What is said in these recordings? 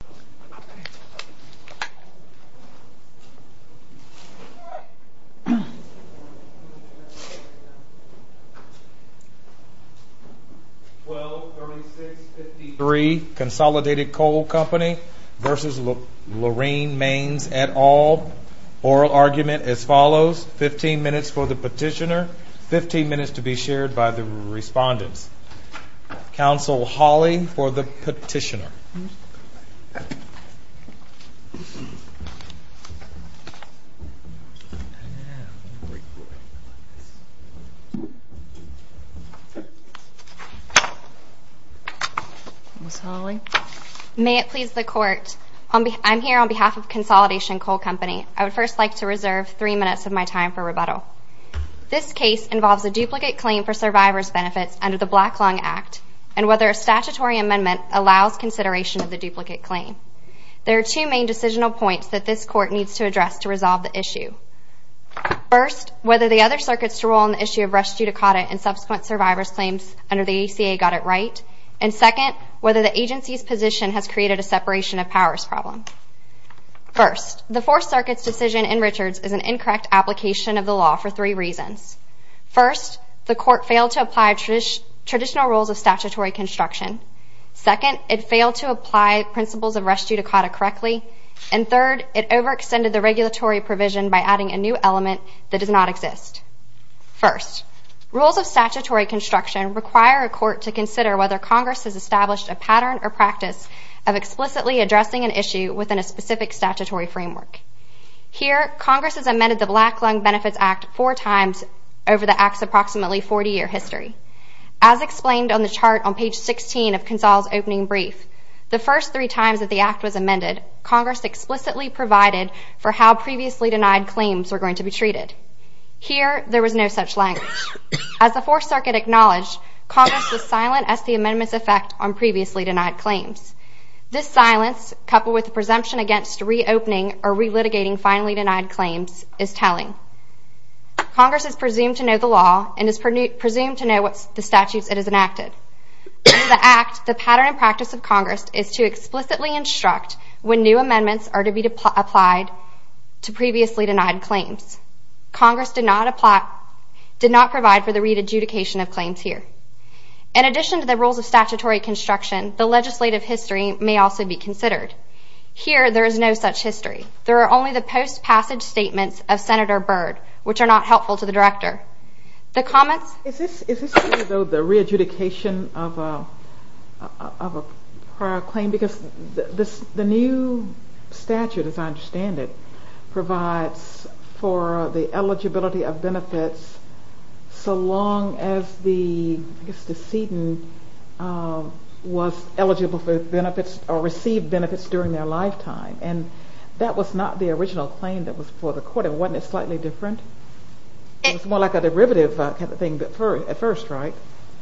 et al. Oral argument as follows, 15 minutes for the petitioner, 15 minutes to be shared by the respondents. Counsel Hawley for the petitioner. May it please the court, I'm here on behalf of Consolidation Coal Company. I would first like to reserve three minutes of my time for rebuttal. This case involves a duplicate claim for survivor's benefits under the Black Lung Act and whether a statutory amendment allows consideration of the duplicate claim. There are two main decisional points that this court needs to address to resolve the issue. First, whether the other circuits' role in the issue of res judicata and subsequent survivor's claims under the ACA got it right. And second, whether the agency's position has created a separation of powers problem. First, the Fourth Circuit's decision in Richards is an incorrect application of the law for three reasons. First, the court failed to apply traditional rules of statutory construction. Second, it failed to apply principles of res judicata correctly. And third, it overextended the regulatory provision by adding a new element that does not exist. First, rules of statutory construction require a court to consider whether Congress has established a pattern or practice of explicitly addressing an issue within a specific statutory framework. Here, Congress has amended the Black Lung Benefits Act four times over the Act's approximately 40-year history. As explained on the chart on page 16 of Console's opening brief, the first three times that the Act was amended, Congress explicitly provided for how previously denied claims were going to be treated. Here, there was no such language. As the Fourth Circuit acknowledged, Congress was silent as to the amendment's effect on previously denied claims. This silence, coupled with the presumption against reopening or re-litigating finally denied claims, is telling. Congress is presumed to know the law and is presumed to know the statutes it has enacted. Under the Act, the pattern and practice of Congress is to explicitly instruct when new amendments are to be applied to previously denied claims. Congress did not provide for the re-adjudication of claims here. In addition to the rules of statutory construction, the Here, there is no such history. There are only the post-passage statements of Senator Byrd, which are not helpful to the Director. The comments? Is this the re-adjudication of a prior claim? Because the new statute, as I understand it, provides for the eligibility of benefits so long as the decedent was eligible for benefits or received benefits from the deceased during their lifetime. And that was not the original claim that was before the Court, and wasn't it slightly different? It was more like a derivative kind of thing at first, right?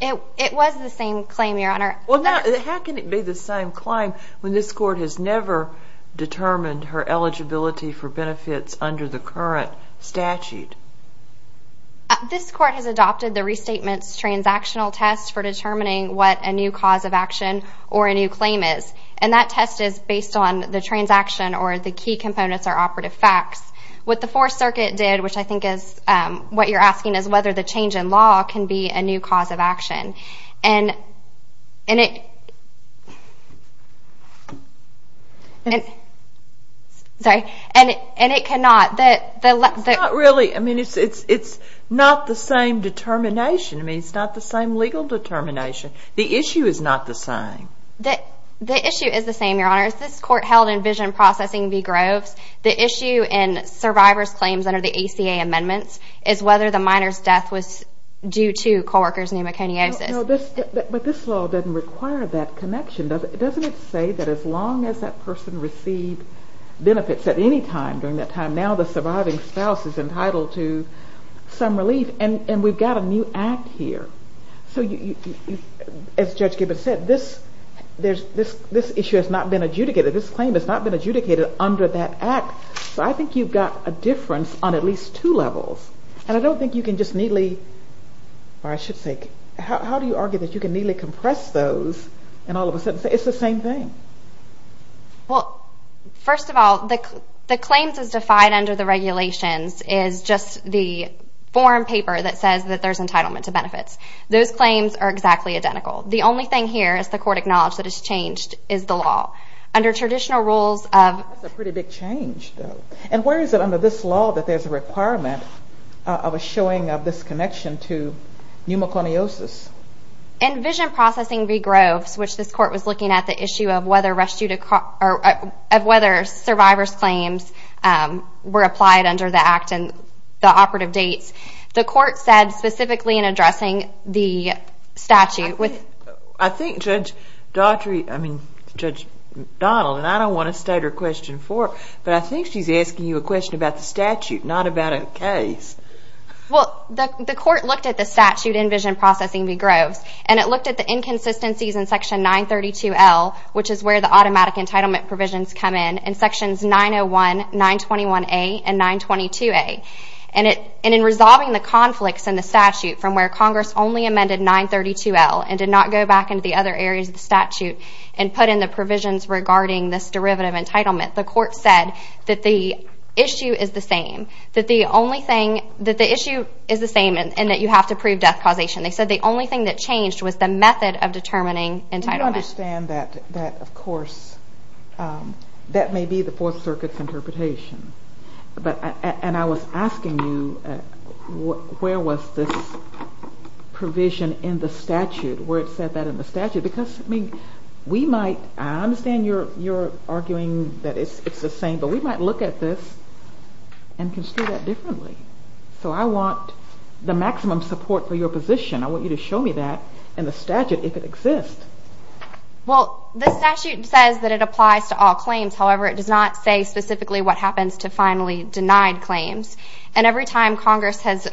It was the same claim, Your Honor. Well, how can it be the same claim when this Court has never determined her eligibility for benefits under the current statute? This Court has adopted the Restatements Transactional Test for determining what a new cause of action or a new claim is. And that test is based on the transaction or the key components or operative facts. What the Fourth Circuit did, which I think is what you're asking, is whether the change in law can be a new cause of action. And it cannot. It's not the same legal determination. The issue is not the same. The issue is the same, Your Honor. As this Court held in Vision Processing v. Groves, the issue in Survivors' Claims under the ACA Amendments is whether the minor's death was due to co-worker's pneumoconiosis. But this law doesn't require that connection. Doesn't it say that as long as that person received benefits at any time during that time, now the surviving spouse is entitled to some relief? And we've got a new act here. So you, as Judge Gibbons said, this issue has not been adjudicated. This claim has not been adjudicated under that act. So I think you've got a difference on at least two levels. And I don't think you can just neatly, or I should say, how do you argue that you can neatly compress those and all of a sudden say it's the same thing? Well, first of all, the claims as defined under the regulations is just the form paper that says that there's entitlement to benefits. Those claims are exactly identical. The only thing here, as the Court acknowledged, that has changed is the law. Under traditional rules of... That's a pretty big change, though. And where is it under this law that there's a requirement of a showing of this connection to pneumoconiosis? In Vision Processing v. Groves, which this Court was looking at the issue of whether survivors' claims were applied under the act and the operative dates, the Court said specifically in addressing the statute... I think Judge Donald, and I don't want to state her question for her, but I think she's asking you a question about the statute, not about a case. Well, the Court looked at the statute in Vision Processing v. Groves, and it looked at the inconsistencies in Section 932L, which is where the automatic entitlement provisions come in, and Sections 901, 921A, and 922A. And in resolving the conflicts in the statute from where Congress only amended 932L and did not go back into the other areas of the statute and put in the provisions regarding this derivative entitlement, the Court said that the issue is the same, and that you have to prove death causation. They said the only thing that changed was the method of determining entitlement. I don't understand that, of course. That may be the Fourth Circuit's interpretation. And I was asking you, where was this provision in the statute, where it said that in the statute? Because, I mean, we might... I understand you're arguing that it's the same, but we might look at this and consider that differently. So I want the maximum support for your position. I want you to show me that in the statute, if it exists. Well, the statute says that it applies to all claims. However, it does not say specifically what happens to finally denied claims. And every time Congress has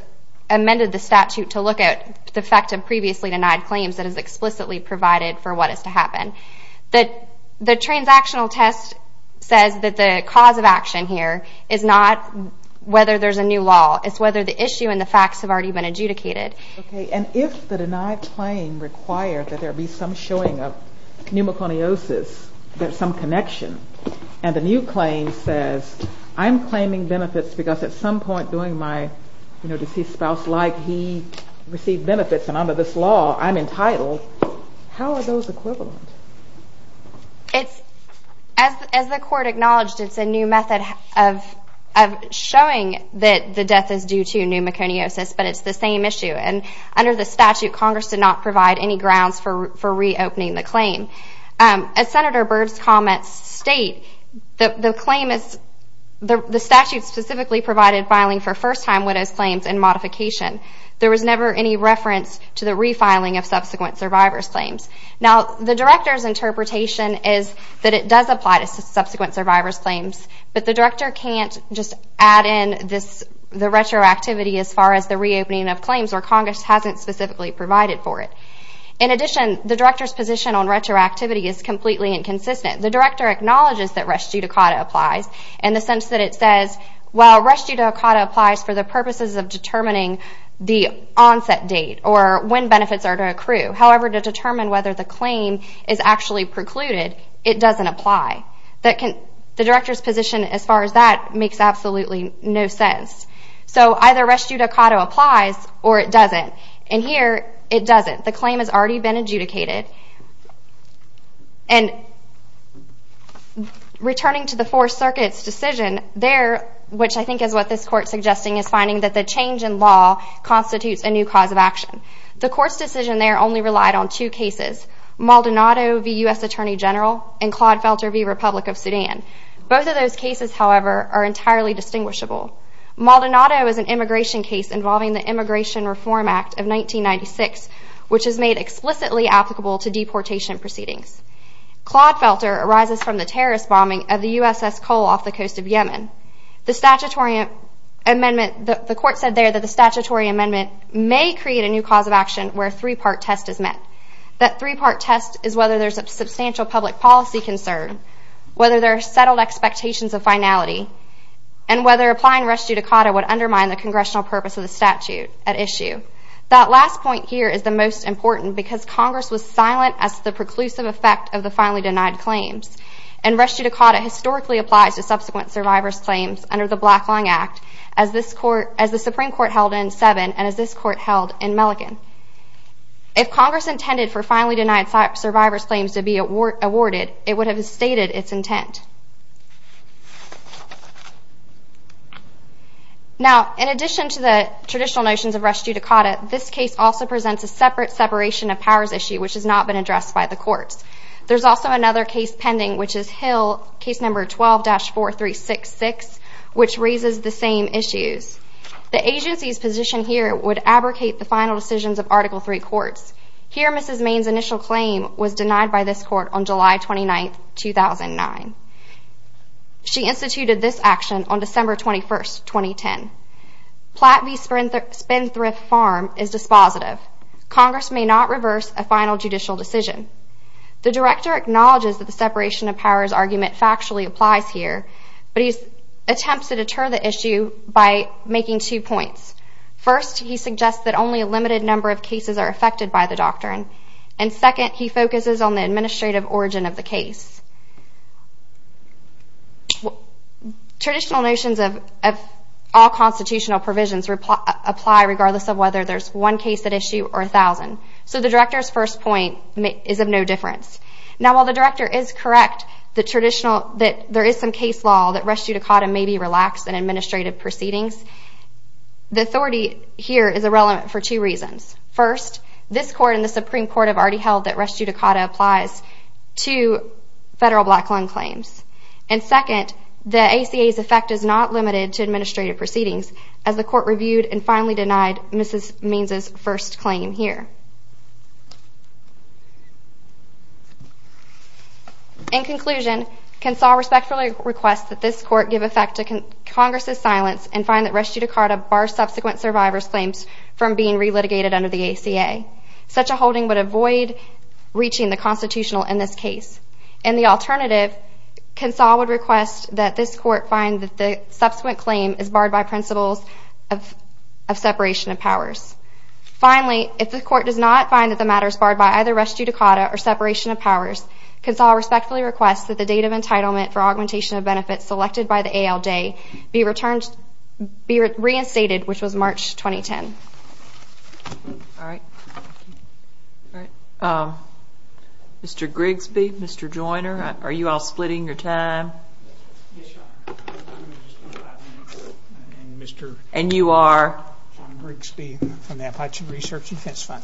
amended the statute to look at the effect of previously denied claims, it has explicitly provided for what is to happen. The transactional test says that the cause of action here is not whether there's a new law. It's whether the issue and the facts have already been adjudicated. Okay. And if the denied claim requires that there be some showing of pneumoconiosis, there's some connection, and the new claim says, I'm claiming benefits because at some point during my deceased spouse's life, he received benefits, and under this law, I'm entitled, how are those equivalent? As the Court acknowledged, it's a new method of showing that the death is due to pneumoconiosis, but it's the same issue. And under the statute, Congress did not provide any grounds for reopening the claim. As Senator Byrd's comments state, the claim is, the statute specifically provided filing for first-time widow's claims and modification. There was never any reference to the refiling of subsequent survivor's claims. Now, the Director's interpretation is that it does apply to subsequent survivor's claims, but the Director can't just add in the retroactivity as far as the reopening of claims, or Congress hasn't specifically provided for it. In addition, the Director's position on retroactivity is completely inconsistent. The Director acknowledges that res judicata applies in the sense that it says, well, res judicata applies for the purposes of determining the onset date or when benefits are to accrue. However, to determine whether the claim is actually precluded, it position as far as that makes absolutely no sense. So either res judicata applies or it doesn't. And here, it doesn't. The claim has already been adjudicated. And returning to the Fourth Circuit's decision there, which I think is what this Court is suggesting, is finding that the change in law constitutes a new cause of action. The Court's decision there only relied on two cases, Maldonado v. U.S. Attorney General and Claude Felter v. Republic of Sudan. Both of those cases, however, are entirely distinguishable. Maldonado is an immigration case involving the Immigration Reform Act of 1996, which is made explicitly applicable to deportation proceedings. Claude Felter arises from the terrorist bombing of the USS Cole off the coast of Yemen. The statutory amendment, the Court said there that the statutory amendment may create a new cause of action where a three-part test is whether there's a substantial public policy concern, whether there are settled expectations of finality, and whether applying res judicata would undermine the Congressional purpose of the statute at issue. That last point here is the most important because Congress was silent as to the preclusive effect of the finally denied claims. And res judicata historically applies to subsequent survivor's claims under the Black Lung Act, as the Supreme Court has done. If Congress intended for finally denied survivor's claims to be awarded, it would have stated its intent. Now, in addition to the traditional notions of res judicata, this case also presents a separate separation of powers issue, which has not been addressed by the Courts. There's also another case pending, which is Hill, case number 12-4366, which raises the same issues. The Agency's position here would abrogate the final decisions of Article III Courts. Here, Mrs. Maine's initial claim was denied by this Court on July 29, 2009. She instituted this action on December 21, 2010. Platt v. Spenthrift Farm is dispositive. Congress may not reverse a final judicial decision. The Director acknowledges that the separation of powers argument factually applies here, but he attempts to deter the issue by making two points. First, he suggests that only a limited number of cases are affected by the doctrine. And second, he focuses on the administrative origin of the case. Traditional notions of all constitutional provisions apply regardless of whether there's one case at issue or a thousand. So the Director's first point is of no difference. Now, while the Director is correct that there is some case law that res judicata may be relaxed in administrative proceedings, the authority here is irrelevant for two reasons. First, this Court and the Supreme Court have already held that res judicata applies to federal black loan claims. And second, the ACA's effect is not limited to administrative proceedings, as the Court reviewed and finally denied Mrs. Maine's first claim here. In conclusion, Consall respectfully requests that this Court give effect to Congress' silence and find that res judicata bars subsequent survivors' claims from being re-litigated under the ACA. Such a holding would avoid reaching the Constitutional in this case. In the alternative, Consall would request that this Court find that the subsequent claim is barred by principles of separation of powers. Finally, if the Court does not find that the matter is barred by either res judicata or separation of powers, Consall respectfully requests that the date of entitlement for augmentation of benefits selected by the ALJ be reinstated, which was March 2010. And you are? John Grigsby from the Apache Research Defense Fund.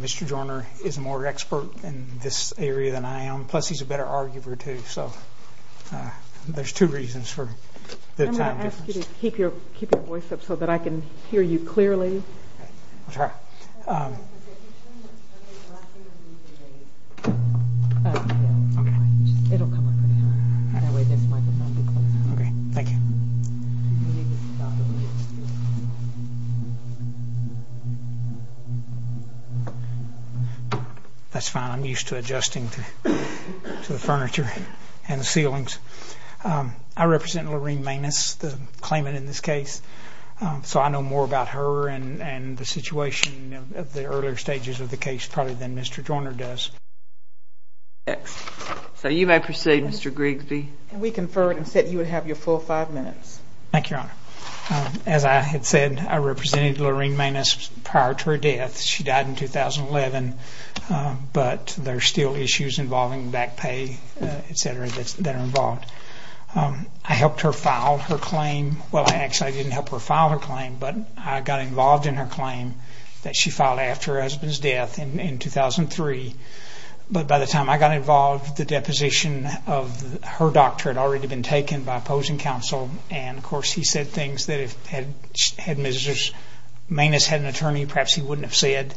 Mr. Joyner is more expert in this area than I am, plus he's a better arguer too. So there's two reasons for the time difference. That's fine. I'm used to adjusting to the furniture and the ceilings. I represent Lorene Maines, the claimant in this case, so I know more about her and the situation of the earlier stages of the case probably than Mr. Joyner does. So you may proceed, Mr. Grigsby. We conferred and said you would have your full five minutes. Thank you, Your Honor. As I had said, I represented Lorene Maines prior to her death. She died in 2011, but there are still issues involving back pay, etc., that are involved. I helped her file her claim. Well, I actually didn't help her file her claim, but I got involved in her claim that she filed after her husband's death in 2003. But by the time I got involved, the deposition of her doctor had already been taken by opposing counsel, and of course he said things that if Ms. Maines had an attorney, perhaps he wouldn't have said.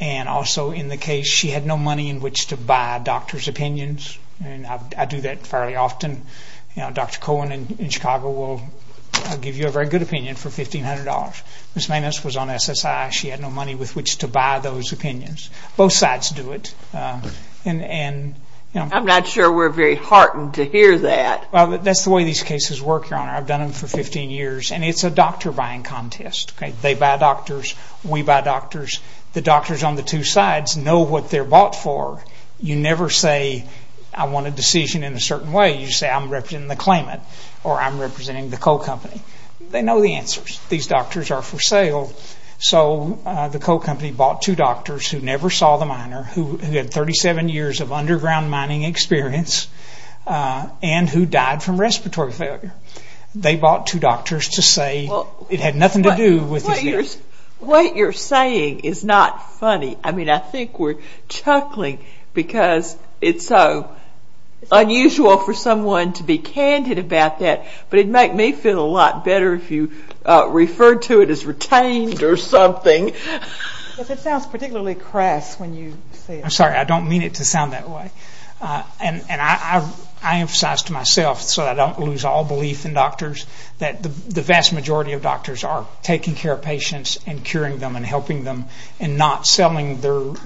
And also in the case, she had no money in which to buy a doctor's opinions, and I do that fairly often. Dr. Cohen in Chicago will give you a very good opinion for $1,500. Ms. Maines was on SSI. She had no money with which to buy those opinions. Both sides do it. I'm not sure we're very heartened to hear that. That's the way these cases work, Your Honor. I've done them for 15 years, and it's a doctor buying contest. They buy doctors, we buy doctors. The doctors on the two sides know what they're bought for. You never say, I want a decision in a certain way. You say, I'm representing the claimant, or I'm representing the coal company. They know the answers. These doctors are for sale, so the coal company bought two doctors who never saw the miner, who had 37 years of underground mining experience, and who died from respiratory failure. They bought two doctors to say it had nothing to do with his name. What you're saying is not funny. I mean, I think we're chuckling because it's so unusual for someone to be candid about that, but it'd make me feel a lot better if you referred to it as retained or something. It sounds particularly crass when you say it. I'm sorry. I don't mean it to sound that way. I emphasize to myself so I don't lose all belief in doctors that the vast majority of doctors are taking care of patients and curing them and helping them and not selling their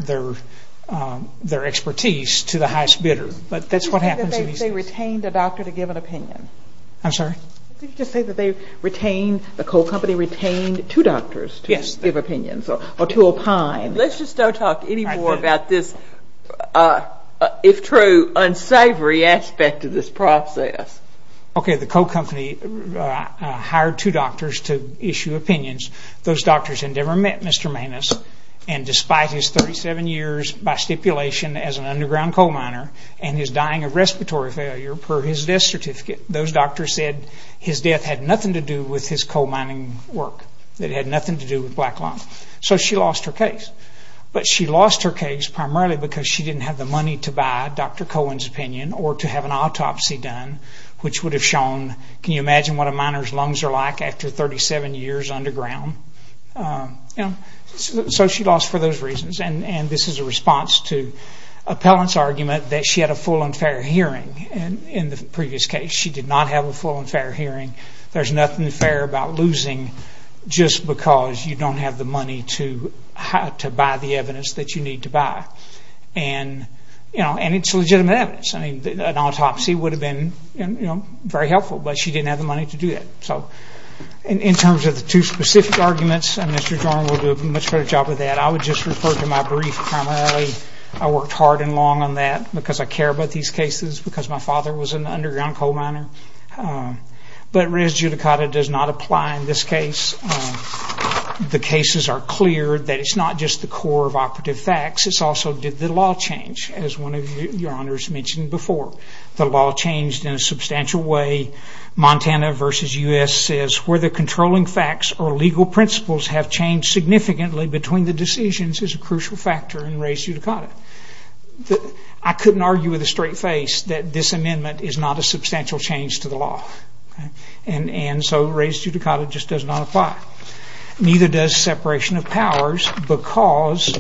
expertise to the highest bidder. That's what I'm saying. They retained a doctor to give an opinion. I'm sorry? Did you just say that the coal company retained two doctors to give opinions or to opine? Let's just not talk anymore about this, if true, unsavory aspect of this process. Okay, the coal company hired two doctors to issue opinions. Those doctors had never met Mr. Maness, and despite his 37 years by stipulation as an underground coal miner and his dying of respiratory failure per his death certificate, those doctors said his death had nothing to do with his coal mining work. It had nothing to do with black lung. So she lost her case. But she lost her case primarily because she didn't have the money to buy Dr. Cohen's opinion or to have an autopsy done, which would have shown, can you imagine what a miner's lungs are like after 37 years underground? So she lost for those reasons, and this is a response to appellant's argument that she had a full and fair hearing in the previous case. She did not have a full and fair hearing. There's nothing fair about losing just because you don't have the money to buy the evidence that you need to buy, and it's legitimate evidence. An autopsy would have been very helpful, but she didn't have the money to do it. In terms of the two specific arguments, and Mr. Jordan will do a much better job of that, I would just refer to my brief primarily. I worked hard and long on that because I care about these cases, because my father was an underground coal miner. But res judicata does not apply in this case. The cases are clear that it's not just the core of operative facts. It's also did the law change, as one of your honors mentioned before. The law changed in a substantial way. Montana versus U.S. says, where the controlling facts or legal principles have changed significantly between the decisions is a crucial factor in res judicata. I couldn't argue with a straight face that this amendment is not a substantial change to the law, and so res judicata just does not apply. Neither does separation of powers, because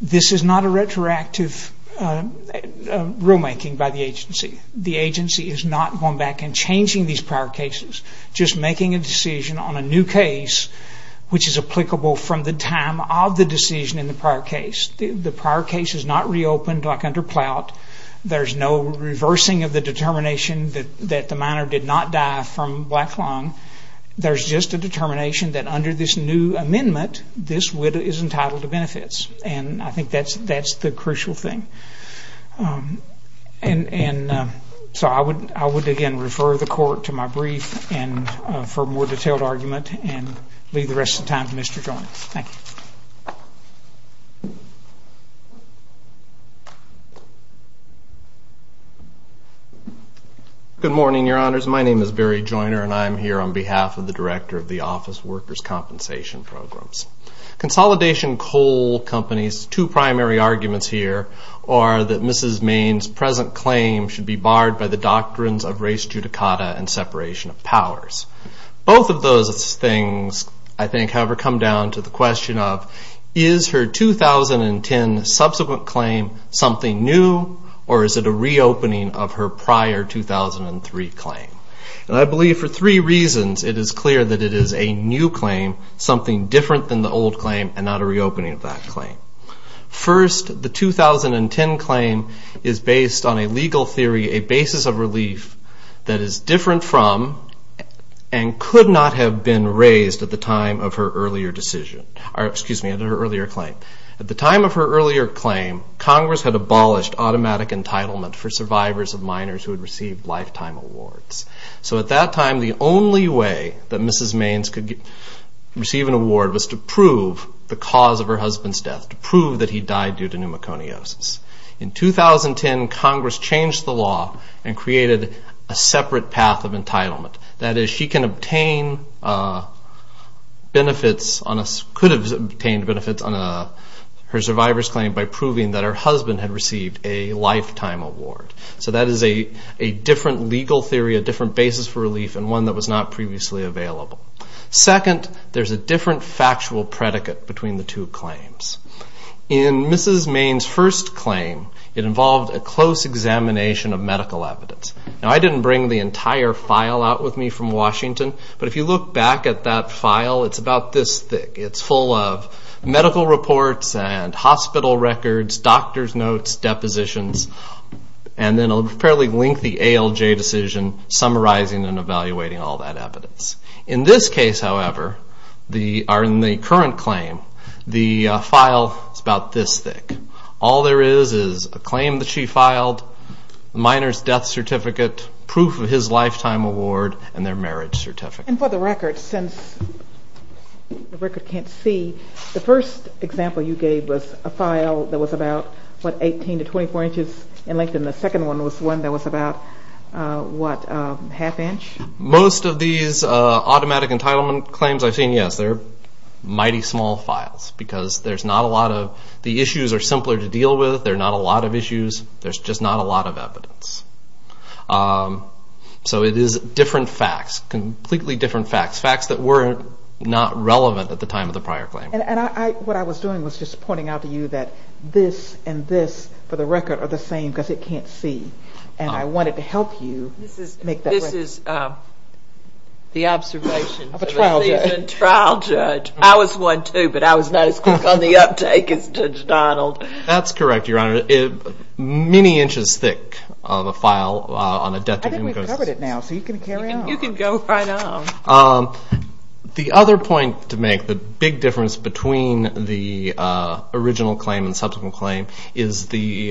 this is not a retroactive rulemaking by the agency. The agency is not going back and changing these prior cases. Just making a decision on a new case, which is applicable from the time of the decision in the prior case. The prior case is not reopened like under Plout. There's no reversing of the determination that the miner did not die from black lung. There's just a determination that under this new amendment, this widow is entitled to benefits. I think that's the crucial thing. I would again refer the court to my brief for a more detailed argument, and leave the rest of the time to Mr. Joyner. Thank you. Good morning, your honors. My name is Barry Joyner, and I'm here on behalf of the Director of the Office Workers' Compensation Programs. Consolidation coal companies, two primary arguments here are that Mrs. Maine's present claim should be barred by the doctrines of res judicata and separation of powers. Both of those things, I think, however, come down to the question of, is her 2010 subsequent claim something new, or is it a reopening of her prior 2003 claim? I believe for three reasons it is clear that it is a new claim, something different than the old claim, and not a reopening of that claim. First, the 2010 claim is based on a legal theory, a basis of relief that is different from, and could not have been raised at the time of her earlier claim. At the time of her earlier claim, Congress had abolished automatic entitlement for survivors of minors who had received lifetime awards. So at that time, the only way that Mrs. Maine's could receive an award was to prove the cause of her husband's death, to prove that he died due to pneumoconiosis. In 2010, Congress changed the law and created a separate path of entitlement. That is, she can obtain benefits on a, could receive a lifetime award. So that is a different legal theory, a different basis for relief, and one that was not previously available. Second, there's a different factual predicate between the two claims. In Mrs. Maine's first claim, it involved a close examination of medical evidence. Now, I didn't bring the entire file out with me from Washington, but if you look back at that file, it's about this thick. It's full of medical reports and hospital records, doctor's notes, depositions, and then a fairly lengthy ALJ decision summarizing and evaluating all that evidence. In this case, however, in the current claim, the file is about this thick. All there is is a claim that she filed, a minor's death certificate, proof of his lifetime award, and their marriage certificate. And for the record, since the record can't see, the first example you gave was a file that was about, what, 18 to 24 inches in length, and the second one was one that was about, what, half inch? Most of these automatic entitlement claims I've seen, yes, they're mighty small files because there's not a lot of, the issues are simpler to deal with, there are not a lot of issues, there's just not a lot of evidence. So it is different facts, completely different facts, facts that were not relevant at the time of the prior claim. And I, what I was doing was just pointing out to you that this and this, for the record, are the same because it can't see, and I wanted to help you make that record. This is the observation of a seasoned trial judge. I was one too, but I was not as quick on the uptake as Judge Donald. That's correct, Your Honor. Many inches thick of a file on a death to humanity case. I think we've covered it now, so you can carry on. You can go right on. The other point to make, the big difference between the original claim and the subsequent claim, is the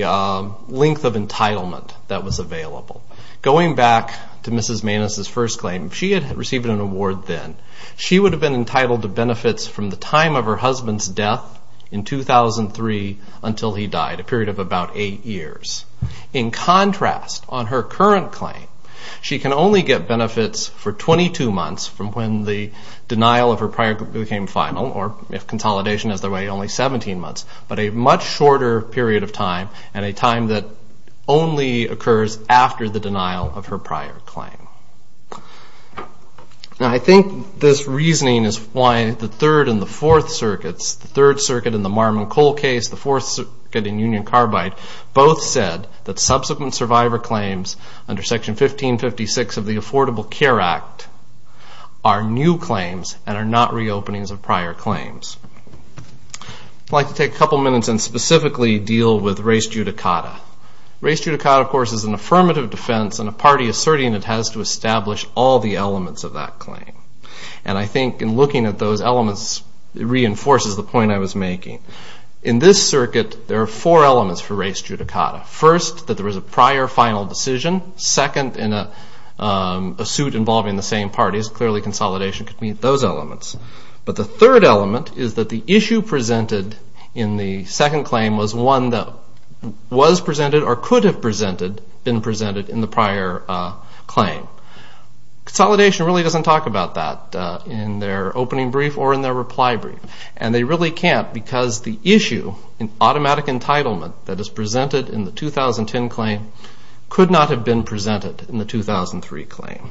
length of entitlement that was available. Going back to Mrs. Maness' first claim, she had received an award then. She would have been entitled to benefits from the time of her husband's death in 2003 until he died, a period of about eight years. In contrast, on her current claim, she can only get benefits for 22 months from when the denial of her prior claim became final, or if consolidation is the way, only 17 months, but a much shorter period of time, and a time that only occurs after the denial of her prior claim. Now, I think this reasoning is why the Third and the Fourth Circuits, the Third Circuit in the Marmon-Cole case, the Fourth Circuit in Union-Carbide, both said that subsequent survivor claims under Section 1556 of the Affordable Care Act are new claims and are not reopenings of prior claims. I'd like to take a couple minutes and specifically deal with res judicata. Res judicata, of course, is an affirmative defense and a party asserting it has to establish all the elements of that claim. And I think in looking at those elements, it reinforces the point I was making. In this circuit, there are four elements for res judicata. First, that there was a prior final decision. Second, in a suit involving the same parties, clearly consolidation could meet those elements. But the third element is that the issue presented in the second claim was one that was presented or could have presented, been presented in the prior claim. Consolidation really doesn't talk about that in their opening brief or in their reply brief. And they really can't because the issue in automatic entitlement that is presented in the 2010 claim could not have been presented in the 2003 claim.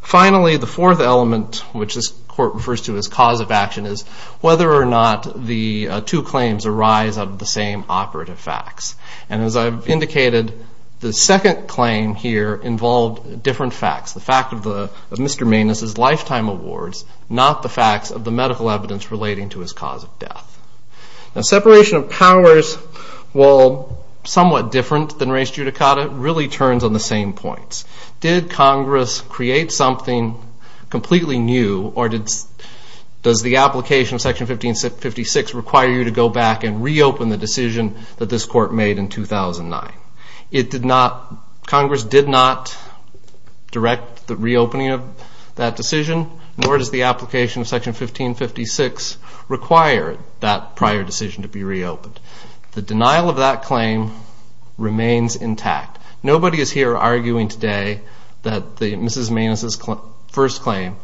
Finally, the fourth element, which this Court refers to as cause of action, is whether or not the two claims arise out of the same operative facts. And as I've indicated, the second claim here involved different facts. The fact of Mr. Maness's lifetime awards, not the facts of the medical evidence relating to his cause of death. Now, separation of powers, while somewhat different than res judicata, really turns on the same points. Did Congress create something completely new or does the application of Section 1556 require you to go back and reopen the decision that this Court made in 2009? It did not, Congress did not direct the reopening of that decision nor does the application of Section 1556 require that prior decision to be reopened. The denial of that claim remains intact. Nobody is here arguing today that Mrs. Maness's first claim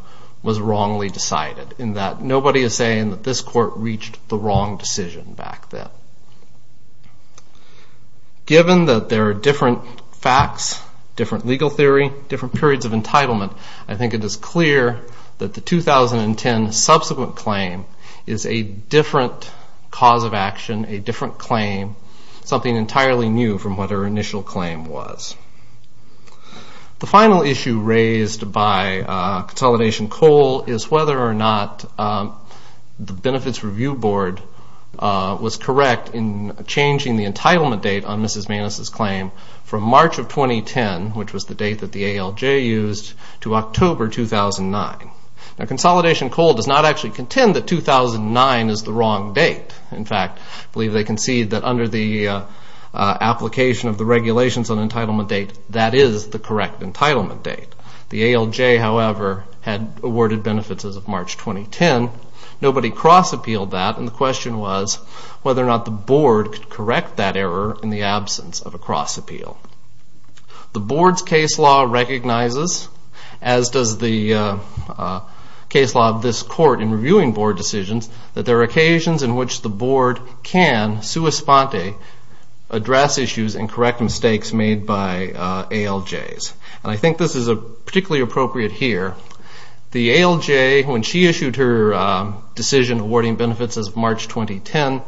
was wrongly decided, in that nobody is saying that this Court reached the wrong decision back then. Given that there are different facts, different legal theory, different periods of entitlement, I think it is clear that the 2010 subsequent claim is a different cause of action, a different claim, something entirely new from what her initial claim was. The final issue raised by Consolidation Coal is whether or not the Benefits Review Board was correct in changing the entitlement date on Mrs. Maness's claim from March of 2010, which was the date that the ALJ used, to October 2009. Now, Consolidation Coal does not actually believe that 2009 is the wrong date. In fact, I believe they concede that under the application of the regulations on entitlement date, that is the correct entitlement date. The ALJ, however, had awarded benefits as of March 2010. Nobody cross-appealed that and the question was whether or not the Board could correct that error in the absence of a cross-appeal. The Board's case law recognizes, as does the case law of this Court in reviewing Board decisions, that there are occasions in which the Board can, sua sponte, address issues and correct mistakes made by ALJs. And I think this is particularly appropriate here. The ALJ, when she issued her decision awarding benefits as of March 2010,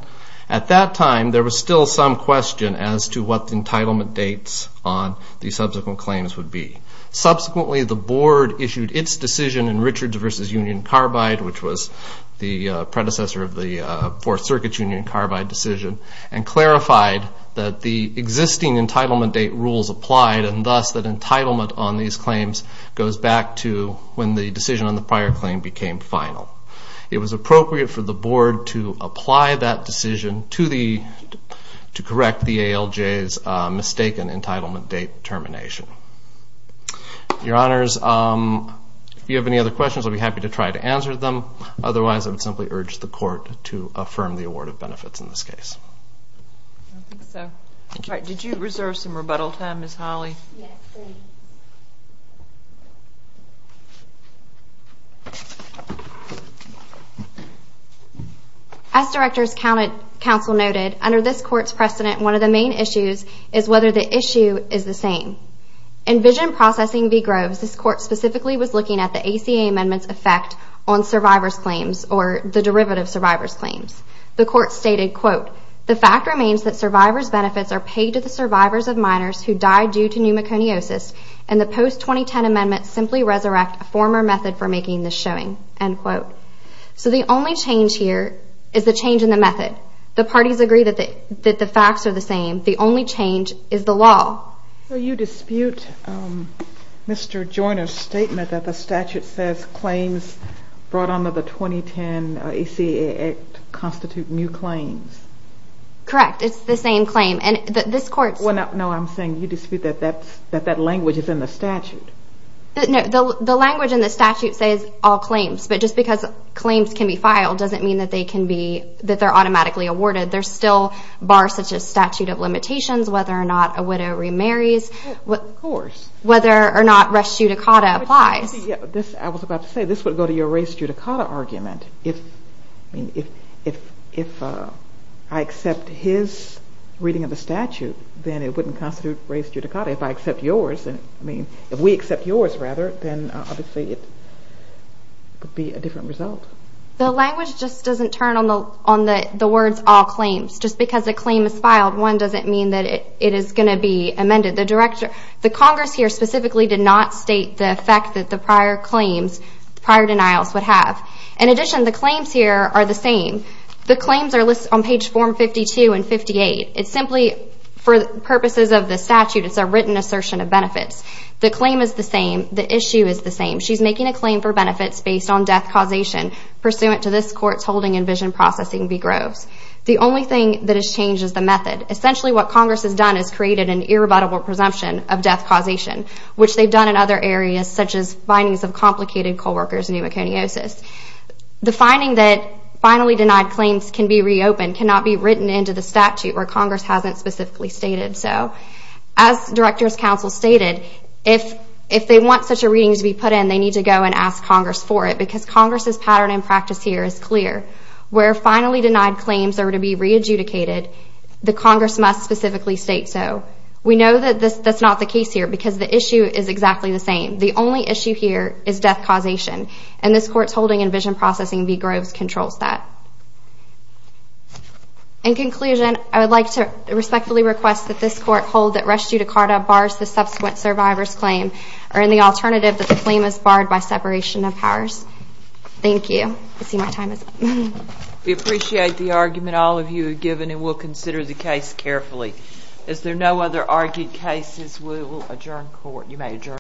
at that time there was still some question as to what the entitlement dates on the subsequent claims would be. Subsequently, the Board issued its decision in Richards v. Union Carbide, which was the predecessor of the Fourth Circuit's Union Carbide decision, and clarified that the existing entitlement date rules applied and thus that entitlement on these claims goes back to when the decision on the prior claim became final. It was appropriate for the Board to apply that decision to correct the ALJ's mistaken entitlement date termination. Your Honors, if you have any other questions I'll be happy to try to answer them. Otherwise, I would simply urge the Court to affirm the award of benefits in this case. Did you reserve some rebuttal time, Ms. Hawley? Yes, please. As Director's Counsel noted, under this Court's precedent one of the main issues is whether the issue is the same. In Vision Processing v. Groves, this Court specifically was looking at the ACA amendment's effect on survivors' claims or the derivative survivors' claims. The Court stated, quote, the fact remains that survivors' benefits are paid to the survivors of minors who died due to pneumoconiosis, and the post-2010 amendment simply resurrects a former method for making this showing, end quote. So the only change here is the change in the method. The parties agree that the facts are the same. The only change is the law. So you dispute Mr. Joyner's statement that the statute says claims brought under the 2010 ACA Act constitute new claims? Correct. It's the same claim. And this Court's... No, I'm saying you dispute that that language is in the statute. The language in the statute says all claims, but just because claims can be filed doesn't mean that they're automatically awarded. There's still bars such as statute of limitations, whether or not a widow remarries, whether or not res judicata applies. I was about to say, this would go to your res judicata argument. If I accept his reading of the statute, then it wouldn't constitute res judicata. If I accept yours, I mean, if we accept yours rather, then obviously it would be a different result. The language just doesn't turn on the words all claims. Just because a claim is filed, one doesn't mean that it is going to be amended. The Congress here specifically did not state the fact that the prior claims, prior denials would have. In addition, the claims here are the same. The claims are listed on page 452 and 58. It's simply for purposes of the statute. It's a written assertion of benefits. The claim is the same. The issue is the same. She's making a claim for benefits based on death causation pursuant to this Court's holding in Vision Processing v. Groves. The only thing that has changed is the method. Essentially what Congress has done is created an irrebuttable presumption of death causation, which they've done in other areas, such as findings of complicated co-workers pneumoconiosis. The finding that finally denied claims can be reopened cannot be written into the statute where Congress hasn't specifically stated so. As Director's Counsel stated, if they want such a reading to be put in, they need to go and ask Congress for it, because Congress's pattern and practice here is clear. Where finally denied claims are to be re-adjudicated, the Congress must specifically state so. We know that that's not the case here, because the issue is exactly the same. The only issue here is death causation, and this Court's holding in Vision Processing v. Groves controls that. In conclusion, I would like to respectfully request that this Court hold that res judicata bars the subsequent survivor's claim, or any alternative that the claim is barred by separation of powers. Thank you. I see my time is up. We appreciate the argument all of you have given, and we'll consider the case carefully. Is there no other argued cases? We will adjourn court. You may adjourn.